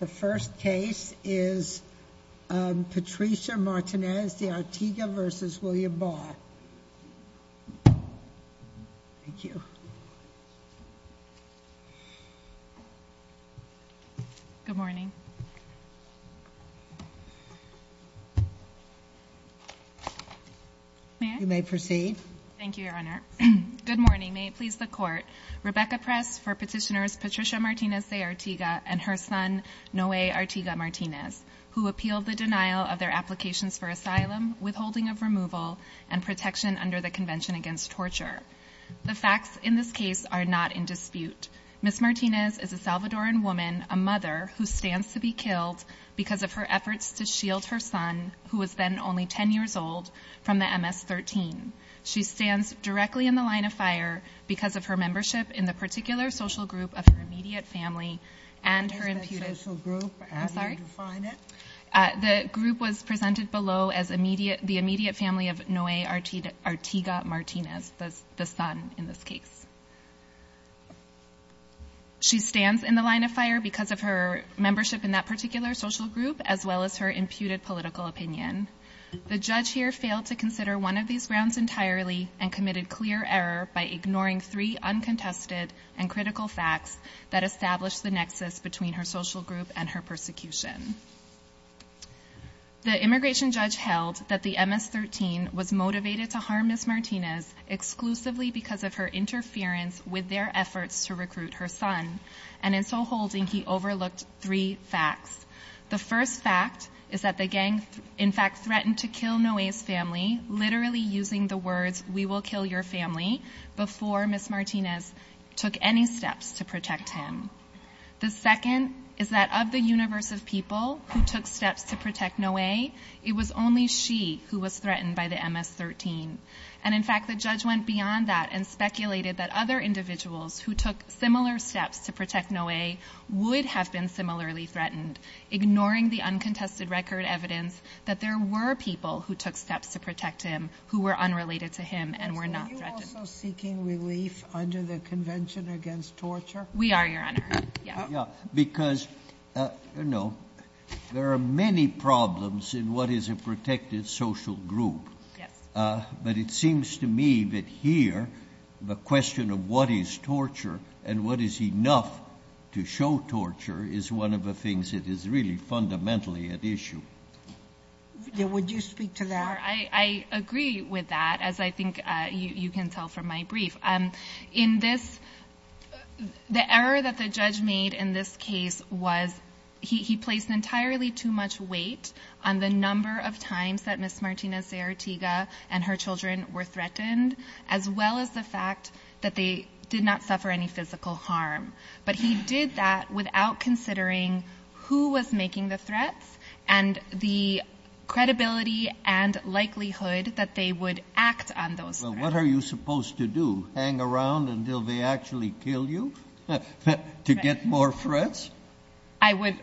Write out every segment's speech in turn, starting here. The first case is Patricia Martinez De Artiga v. William Barr, thank you. Good morning, you may proceed. Thank you, Your Honor. Good morning, may it please the court, Rebecca Press for petitioners Patricia Martinez De Artiga and her son, Noe Artiga Martinez, who appealed the denial of their applications for asylum, withholding of removal, and protection under the Convention Against Torture. The facts in this case are not in dispute. Ms. Martinez is a Salvadoran woman, a mother, who stands to be killed because of her efforts to shield her son, who was then only 10 years old, from the MS-13. She stands directly in the line of fire because of her membership in the particular social group of her immediate family and her imputed political opinion. The group was presented below as the immediate family of Noe Artiga Martinez, the son in this case. She stands in the line of fire because of her membership in that particular social group, as well as her imputed political opinion. The judge here failed to consider one of these grounds entirely and committed clear error by ignoring three uncontested and critical facts that established the nexus between her social group and her persecution. The immigration judge held that the MS-13 was motivated to harm Ms. Martinez exclusively because of her interference with their efforts to recruit her son, and in so holding, he overlooked three facts. The first fact is that the gang, in the words, we will kill your family, before Ms. Martinez took any steps to protect him. The second is that of the universe of people who took steps to protect Noe, it was only she who was threatened by the MS-13. And in fact, the judge went beyond that and speculated that other individuals who took similar steps to protect Noe would have been similarly threatened, ignoring the uncontested record evidence that there were people who took steps to protect him who were unrelated to him and were not threatened. Were you also seeking relief under the Convention Against Torture? We are, Your Honor. Yeah, because, you know, there are many problems in what is a protected social group, but it seems to me that here, the question of what is torture and what is enough to show torture is one of the things that is really fundamentally at issue. Would you speak to that? I agree with that, as I think you can tell from my brief. In this, the error that the judge made in this case was he placed entirely too much weight on the number of times that Ms. Martinez-Zeratiga and her children were threatened, as well as the fact that they did not suffer any physical harm. But he did that without considering who was making the threats and the credibility and likelihood that they would act on those threats. Well, what are you supposed to do, hang around until they actually kill you to get more threats? I would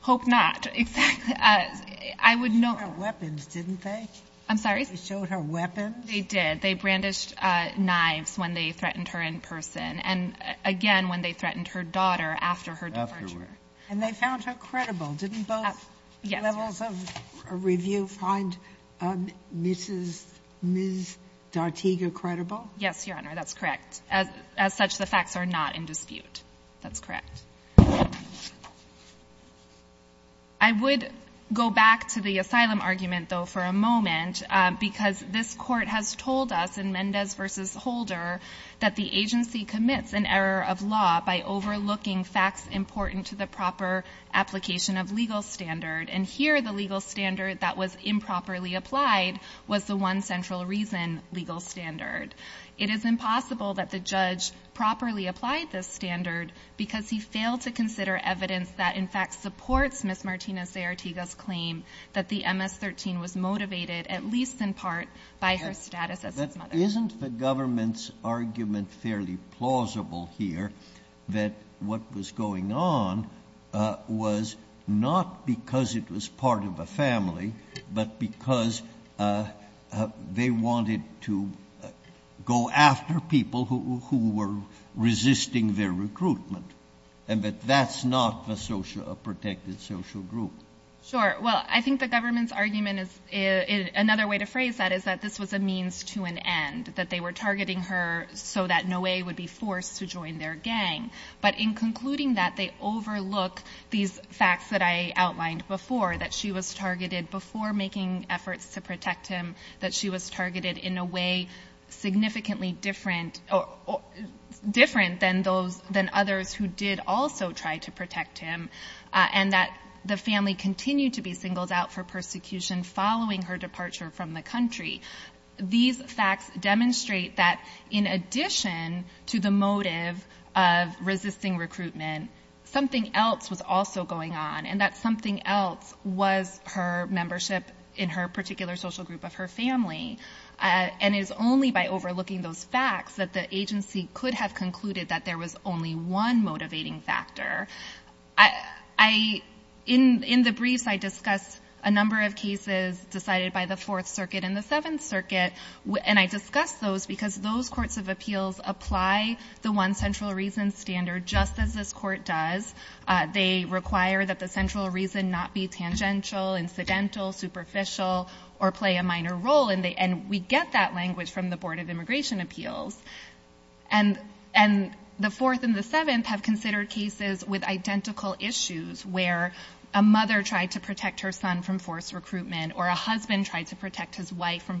hope not, exactly. I would know... They showed her weapons, didn't they? I'm sorry? They showed her weapons? They did. They brandished knives when they threatened her in person, and again when they threatened her daughter after her departure. Afterward. And they found her credible, didn't both levels of review find that? Did they find Ms. Martinez-Zeratiga credible? Yes, Your Honor, that's correct. As such, the facts are not in dispute. That's correct. I would go back to the asylum argument, though, for a moment, because this court has told us in Mendez v. Holder that the agency commits an error of law by overlooking facts important to the proper application of legal standard, and here the legal standard that was improperly applied was the one central reason legal standard. It is impossible that the judge properly applied this standard because he failed to consider evidence that, in fact, supports Ms. Martinez-Zeratiga's claim that the MS-13 was motivated, at least in part, by her status as his mother. But isn't the government's argument fairly plausible here, that what was going on was not because it was part of a family, but because they wanted to go after people who were resisting their recruitment, and that that's not a protected social group? Sure. Well, I think the government's argument is, another way to phrase that is that this was a means to an end, that they were targeting her so that Noe would be forced to join their gang. But in concluding that, they overlook these facts that I outlined before, that she was targeted before making efforts to protect him, that she was targeted in a way significantly different than others who did also try to protect him, and that the family continued to be singled out for persecution following her departure from the country. These facts demonstrate that in addition to the motive of resisting recruitment, something else was also going on, and that something else was her membership in her particular social group of her family. And it is only by overlooking those facts that the agency could have concluded that there was only one motivating factor. In the briefs, I discuss a number of cases decided by the Fourth Circuit and the Fourth and the Seventh, because those courts of appeals apply the one central reason standard, just as this court does. They require that the central reason not be tangential, incidental, superficial, or play a minor role, and we get that language from the Board of Immigration Appeals. And the Fourth and the Seventh have considered cases with identical issues, where a mother tried to protect her son from forced recruitment, or a husband tried to protect his wife from being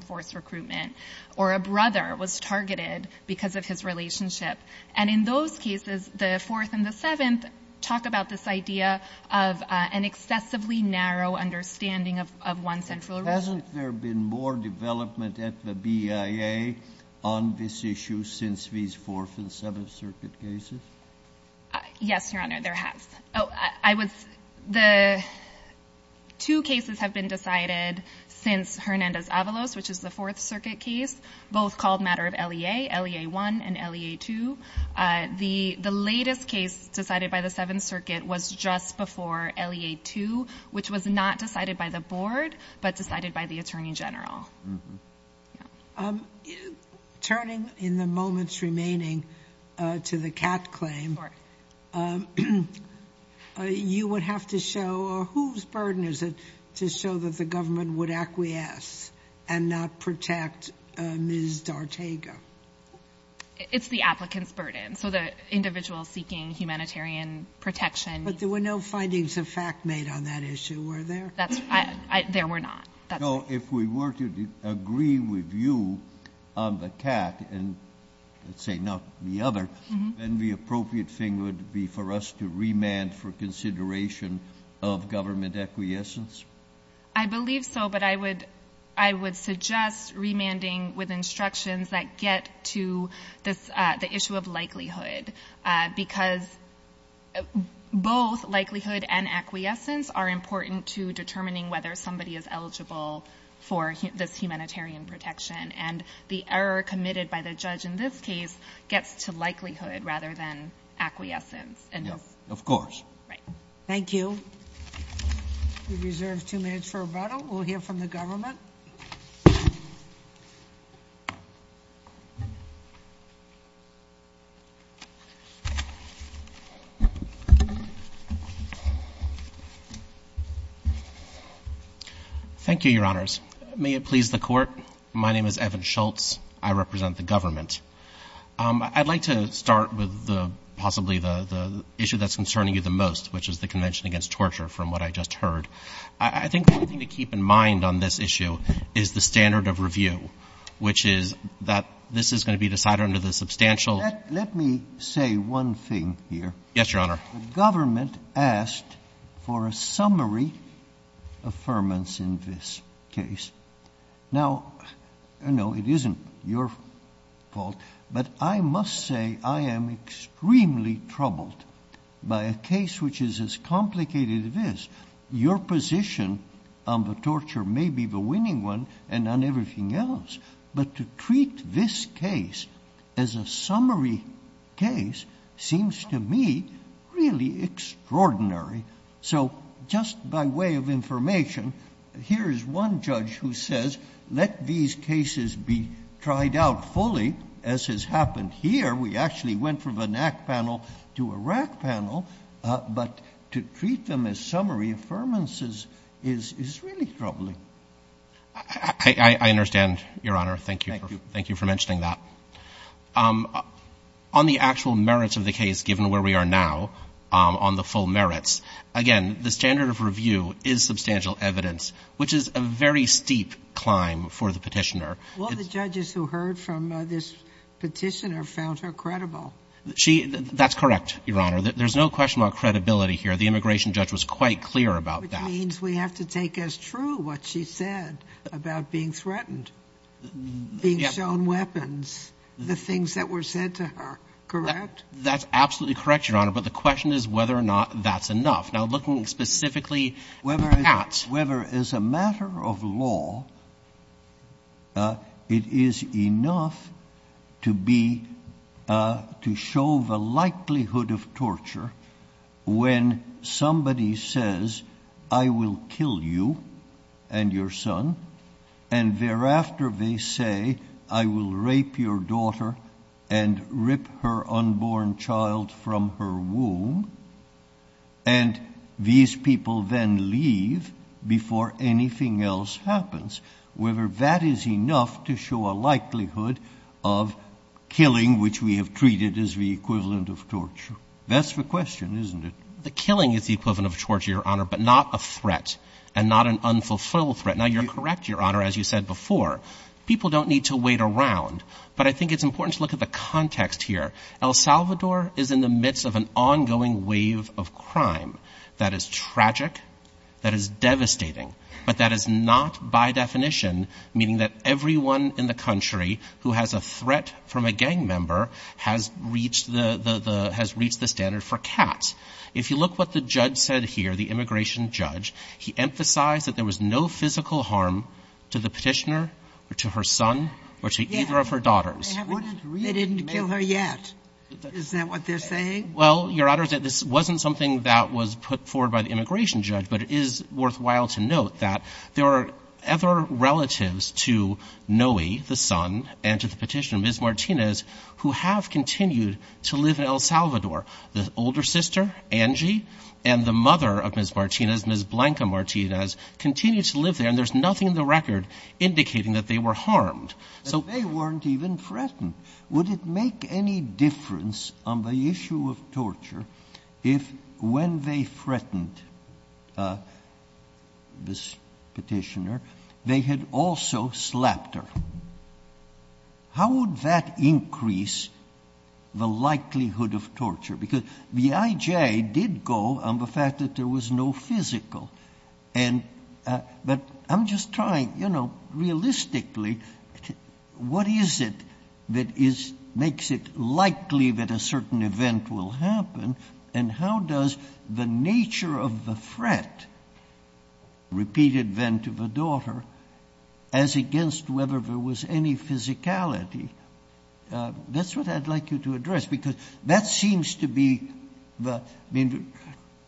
targeted because of his relationship. And in those cases, the Fourth and the Seventh talk about this idea of an excessively narrow understanding of one central reason. Hasn't there been more development at the BIA on this issue since these Fourth and Seventh Circuit cases? Yes, Your Honor, there has. The two cases have been decided since Hernandez-Avalos, which is the Fourth Circuit case, both called matter of LEA, LEA-1 and LEA-2. The latest case decided by the Seventh Circuit was just before LEA-2, which was not decided by the Board, but decided by the Attorney General. Turning in the moments remaining to the Catt claim, you would have to show, or whose burden is it to show that the government would acquiesce and not protect Ms. D'Artega? It's the applicant's burden. So the individual seeking humanitarian protection. But there were no findings of fact made on that issue, were there? There were not. So if we were to agree with you on the Catt, and let's say not the other, then the government acquiescence? I believe so, but I would suggest remanding with instructions that get to the issue of likelihood, because both likelihood and acquiescence are important to determining whether somebody is eligible for this humanitarian protection. And the error committed by the judge in this case gets to likelihood rather than acquiescence. Of course. Thank you. We reserve two minutes for rebuttal. We'll hear from the government. Thank you, Your Honors. May it please the Court, my name is Evan Schultz. I represent the government. I'd like to start with possibly the issue that's concerning you the most, which is the Convention Against Torture, from what I just heard. I think the only thing to keep in mind on this issue is the standard of review, which is that this is going to be decided under the substantial ---- Let me say one thing here. Yes, Your Honor. The government asked for a summary affirmance in this case. Now, no, it isn't your fault, but I must say I am extremely troubled by a case which is as complicated as this. Your position on the torture may be the winning one and on everything else, but to treat this case as a summary case seems to me really extraordinary. So just by way of information, here is one judge who says, let these cases be tried out fully, as has happened here. We actually went from a NAC panel to a RAC panel, but to treat them as summary affirmances is really troubling. I understand, Your Honor. Thank you for mentioning that. On the actual merits of the case, given where we are now on the full merits, again, the standard of review is substantial evidence, which is a very steep climb for the Petitioner. Well, the judges who heard from this Petitioner found her credible. She ---- that's correct, Your Honor. There's no question about credibility here. The immigration judge was quite clear about that. Which means we have to take as true what she said about being threatened, being shown weapons, the things that were said to her, correct? That's absolutely correct, Your Honor, but the question is whether or not that's enough. Now, looking specifically at the facts. Whether as a matter of law, it is enough to be ---- to show the likelihood of torture when somebody says, I will kill you and your son, and thereafter they say, I will rape your daughter and rip her unborn child from her womb, and these people then leave before anything else happens, whether that is enough to show a likelihood of killing, which we have treated as the equivalent of torture. That's the question, isn't it? The killing is the equivalent of torture, Your Honor, but not a threat and not an unfulfilled threat. Now, you're correct, Your Honor, as you said before. People don't need to wait around, but I think it's important to look at the context here. El Salvador is in the midst of an ongoing wave of crime that is tragic, that is devastating, but that is not by definition meaning that everyone in the country who has a threat from a gang member has reached the standard for cats. If you look what the judge said here, the immigration judge, he emphasized that there are other relatives to Noe, the son, and to the petitioner, Ms. Martinez, who have continued to live in El Salvador. The older sister, Angie, and the mother of Ms. Martinez, Ms. Blanca Martinez, continue to live there, and there's nothing in the record indicating that they have been killed or that they were harmed. But they weren't even threatened. Would it make any difference on the issue of torture if when they threatened this petitioner, they had also slapped her? How would that increase the likelihood of torture? Because the IJ did go on the fact that there was no physical, but I'm just trying, realistically, what is it that makes it likely that a certain event will happen, and how does the nature of the threat, repeated then to the daughter, as against whether there was any physicality? That's what I'd like you to address, because that seems to be the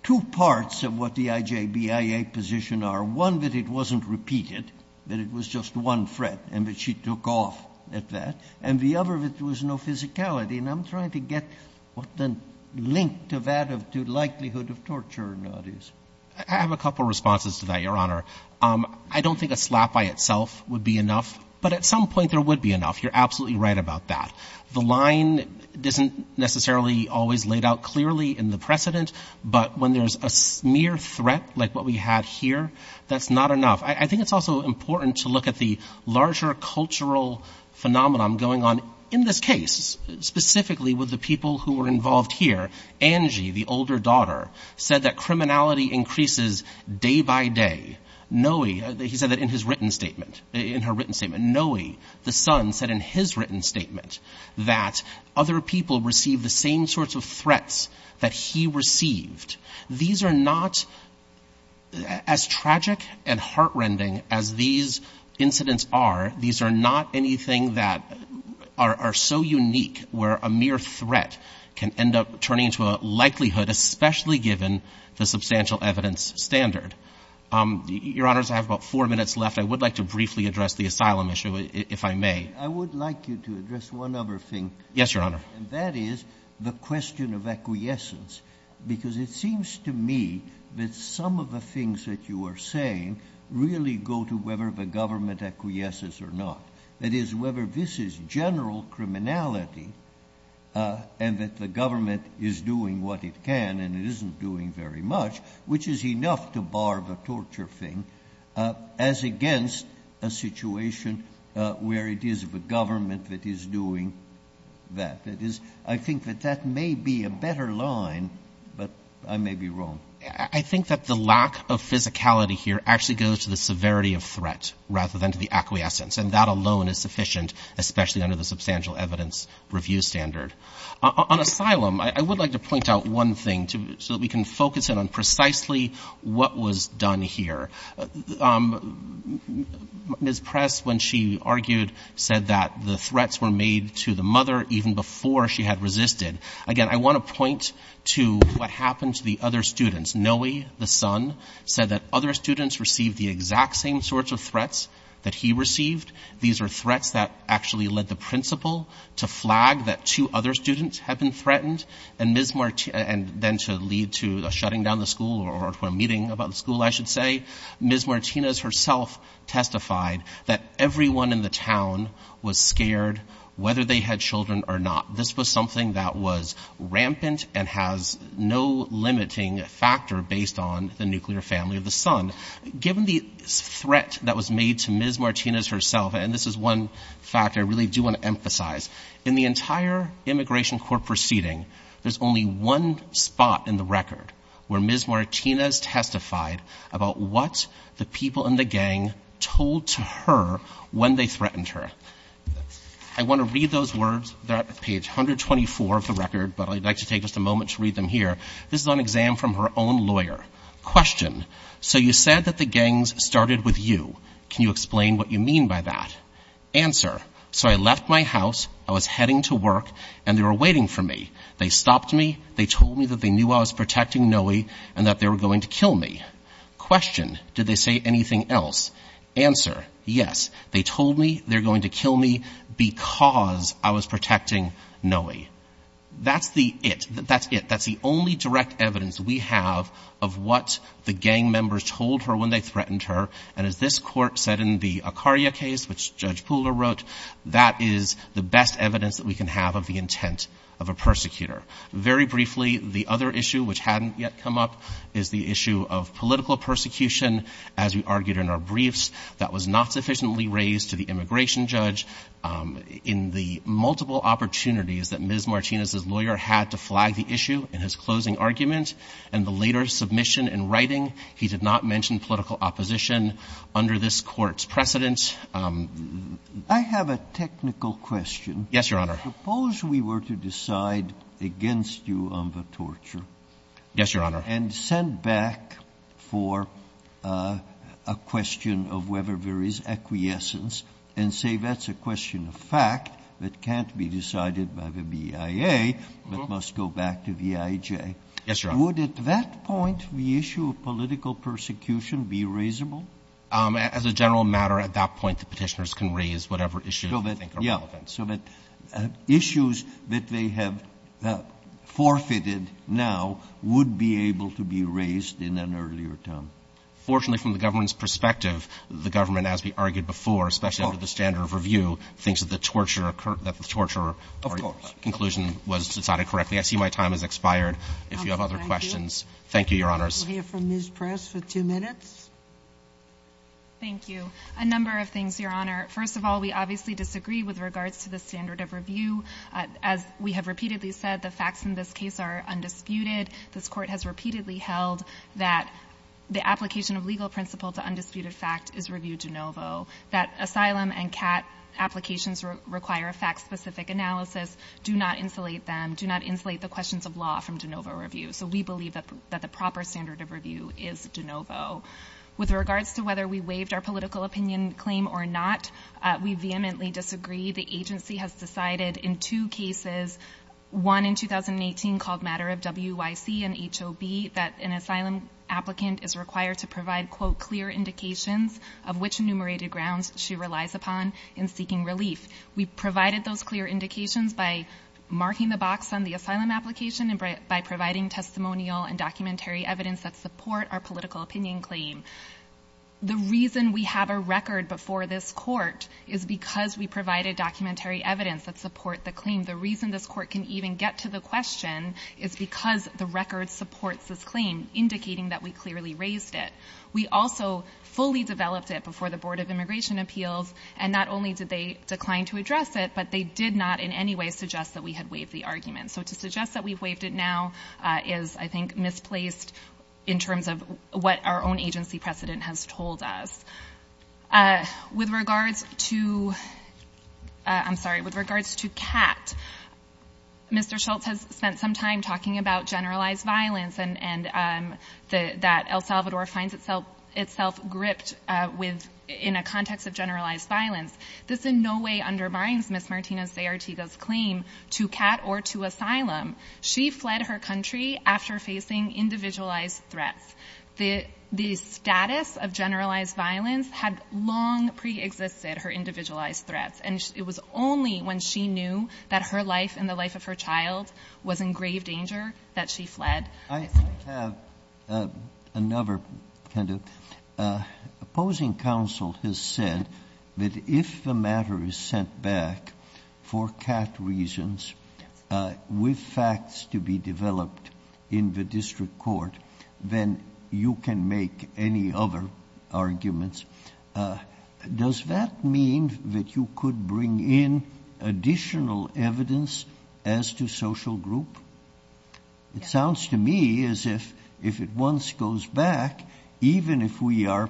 two parts of what the IJBIA position are. One, that it wasn't repeated, that it was just one threat, and that she took off at that. And the other, that there was no physicality. And I'm trying to get what the link to that, to likelihood of torture, is. I have a couple of responses to that, Your Honor. I don't think a slap by itself would be enough, but at some point there would be enough. You're absolutely right about that. The line isn't necessarily always laid out clearly in the precedent, but when there's a mere threat, like what we had here, that's not enough. I think it's also important to look at the larger cultural phenomenon going on in this case, specifically with the people who were involved here. Angie, the older daughter, said that criminality increases day by day. Noe, he said that in his written statement, in her written statement. Noe, the son, said in his written statement that other people received the same sorts of threats that he received. These are not, as tragic and heart-rending as these incidents are, these are not anything that are so unique, where a mere threat can end up turning into a likelihood, especially given the substantial evidence standard. Your Honors, I have about four minutes left. I would like to briefly address the asylum issue, if I may. I would like you to address one other thing. Yes, Your Honor. And that is the question of acquiescence, because it seems to me that some of the things that you are saying really go to whether the government acquiesces or not. That is, whether this is general criminality and that the government is doing what it can and it isn't doing very much, which is enough to bar the torture thing, as against a situation where it is the government that is doing that. That is, I think that that may be a better line, but I may be wrong. I think that the lack of physicality here actually goes to the severity of threat rather than to the acquiescence, and that alone is sufficient, especially under the substantial evidence review standard. On asylum, I would like to point out one thing so that we can focus in on precisely what was done here. Ms. Press, when she argued, said that the threats were made to the mother even before she had resisted. Again, I want to point to what happened to the other students. Noe, the son, said that other students received the exact same sorts of threats that he received. These are threats that actually led the principal to flag that two other students had been threatened, and then to lead to a shutting down of the school or a meeting about the school, I should say. Ms. Martinez herself testified that everyone in the town was scared, whether they had children or not. This was something that was rampant and has no limiting factor based on the nuclear family of the son. Given the threat that was made to Ms. Martinez herself, and this is one factor I really do want to emphasize, in the entire immigration court proceeding, there's only one spot in the record where Ms. Martinez testified about what the people in the gang told to her when they threatened her. I want to read those words. They're at page 124 of the record, but I'd like to take just a moment to read them here. This is on exam from her own lawyer. Answer. Question. So you said that the gangs started with you. Can you explain what you mean by that? Answer. So I left my house, I was heading to work, and they were waiting for me. They stopped me, they told me that they knew I was protecting Noe, and that they were going to kill me. Question. Did they say anything else? Answer. Yes. They told me they're going to kill me because I was protecting Noe. That's the it. That's it. That's the best evidence we have of what the gang members told her when they threatened her. And as this court said in the Acaria case, which Judge Pooler wrote, that is the best evidence that we can have of the intent of a persecutor. Very briefly, the other issue, which hadn't yet come up, is the issue of political persecution. As we argued in our briefs, that was not sufficiently raised to the immigration judge. In the multiple opportunities that Ms. Martinez's lawyer had to flag the issue in his closing argument and the later submission in writing, he did not mention political opposition under this Court's precedent. I have a technical question. Yes, Your Honor. Suppose we were to decide against you on the torture. Yes, Your Honor. And send back for a question of whether there is acquiescence and say that's a question of fact that can't be decided by the BIA but must go back to VIJ. Yes, Your Honor. Would, at that point, the issue of political persecution be raisable? As a general matter, at that point, the petitioners can raise whatever issue they think are relevant. So that issues that they have forfeited now would be able to be raised in an earlier term. Fortunately, from the government's perspective, the government, as we argued before, especially under the standard of review, thinks that the torture or your conclusion was decided correctly. I see my time has expired. Thank you. If you have other questions. Thank you, Your Honors. We'll hear from Ms. Press for two minutes. Thank you. A number of things, Your Honor. First of all, we obviously disagree with regards to the standard of review. As we have repeatedly said, the facts in this case are undisputed. This Court has repeatedly held that the application of legal principle to undisputed fact is review de novo. That asylum and CAT applications require a fact-specific analysis, do not insulate them, do not insulate the questions of law from de novo review. So we believe that the proper standard of review is de novo. With regards to whether we waived our political opinion claim or not, we vehemently disagree. The agency has decided in two cases, one in 2018 called Matter of W.Y.C. and H.O.B., that an asylum applicant is required to provide, quote, clear indications of which enumerated grounds she relies upon in seeking relief. We provided those clear indications by marking the box on the asylum application and by providing testimonial and documentary evidence that support our political opinion claim. The reason we have a record before this Court is because we provided documentary evidence that support the claim. The reason this Court can even get to the question is because the record supports this claim, indicating that we clearly raised it. We also fully developed it before the Board of Immigration Appeals, and not only did they decline to address it, but they did not in any way suggest that we had waived the argument. So to suggest that we've waived it now is, I think, misplaced in terms of what our own agency precedent has told us. With regards to, I'm sorry, with regards to CAT, Mr. Schultz has spent some time talking about generalized violence and that El Salvador finds itself gripped in a context of generalized violence. This in no way undermines Ms. Martínez de Artigo's claim to CAT or to asylum. She fled her country after facing individualized threats. The status of generalized violence had long preexisted her individualized threats, and it was only when she knew that her life and the life of her child was in grave danger that she fled. I have another kind of, opposing counsel has said that if the matter is sent back for CAT reasons with facts to be developed in the district court, then you can make any other arguments. Does that mean that you could bring in additional evidence as to social group? It sounds to me as if it once goes back, even if we are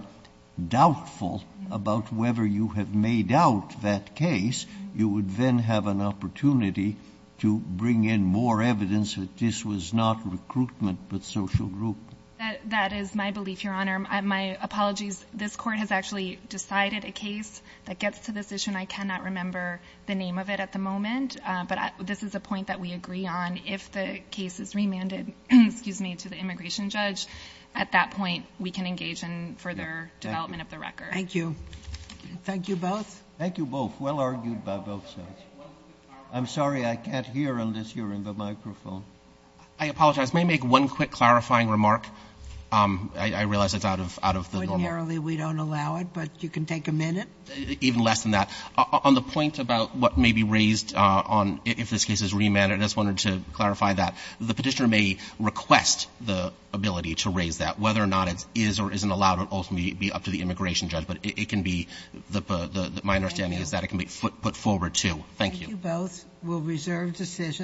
doubtful about whether you have laid out that case, you would then have an opportunity to bring in more evidence that this was not recruitment but social group. That is my belief, Your Honor. My apologies. This court has actually decided a case that gets to this issue, and I cannot remember the name of it at the moment, but this is a point that we agree on. If the case is remanded, excuse me, to the immigration judge, at that point we can engage in further development of the record. Thank you. Thank you both. Thank you both. Well argued by both sides. I'm sorry, I can't hear unless you're in the microphone. I apologize. May I make one quick clarifying remark? I realize it's out of the normal. Ordinarily we don't allow it, but you can take a minute. Even less than that. On the point about what may be raised on if this case is remanded, I just wanted to clarify that. The Petitioner may request the ability to raise that, whether or not it is or isn't allowed will ultimately be up to the immigration judge, but it can be, my understanding is that it can be put forward too. Thank you. Thank you both.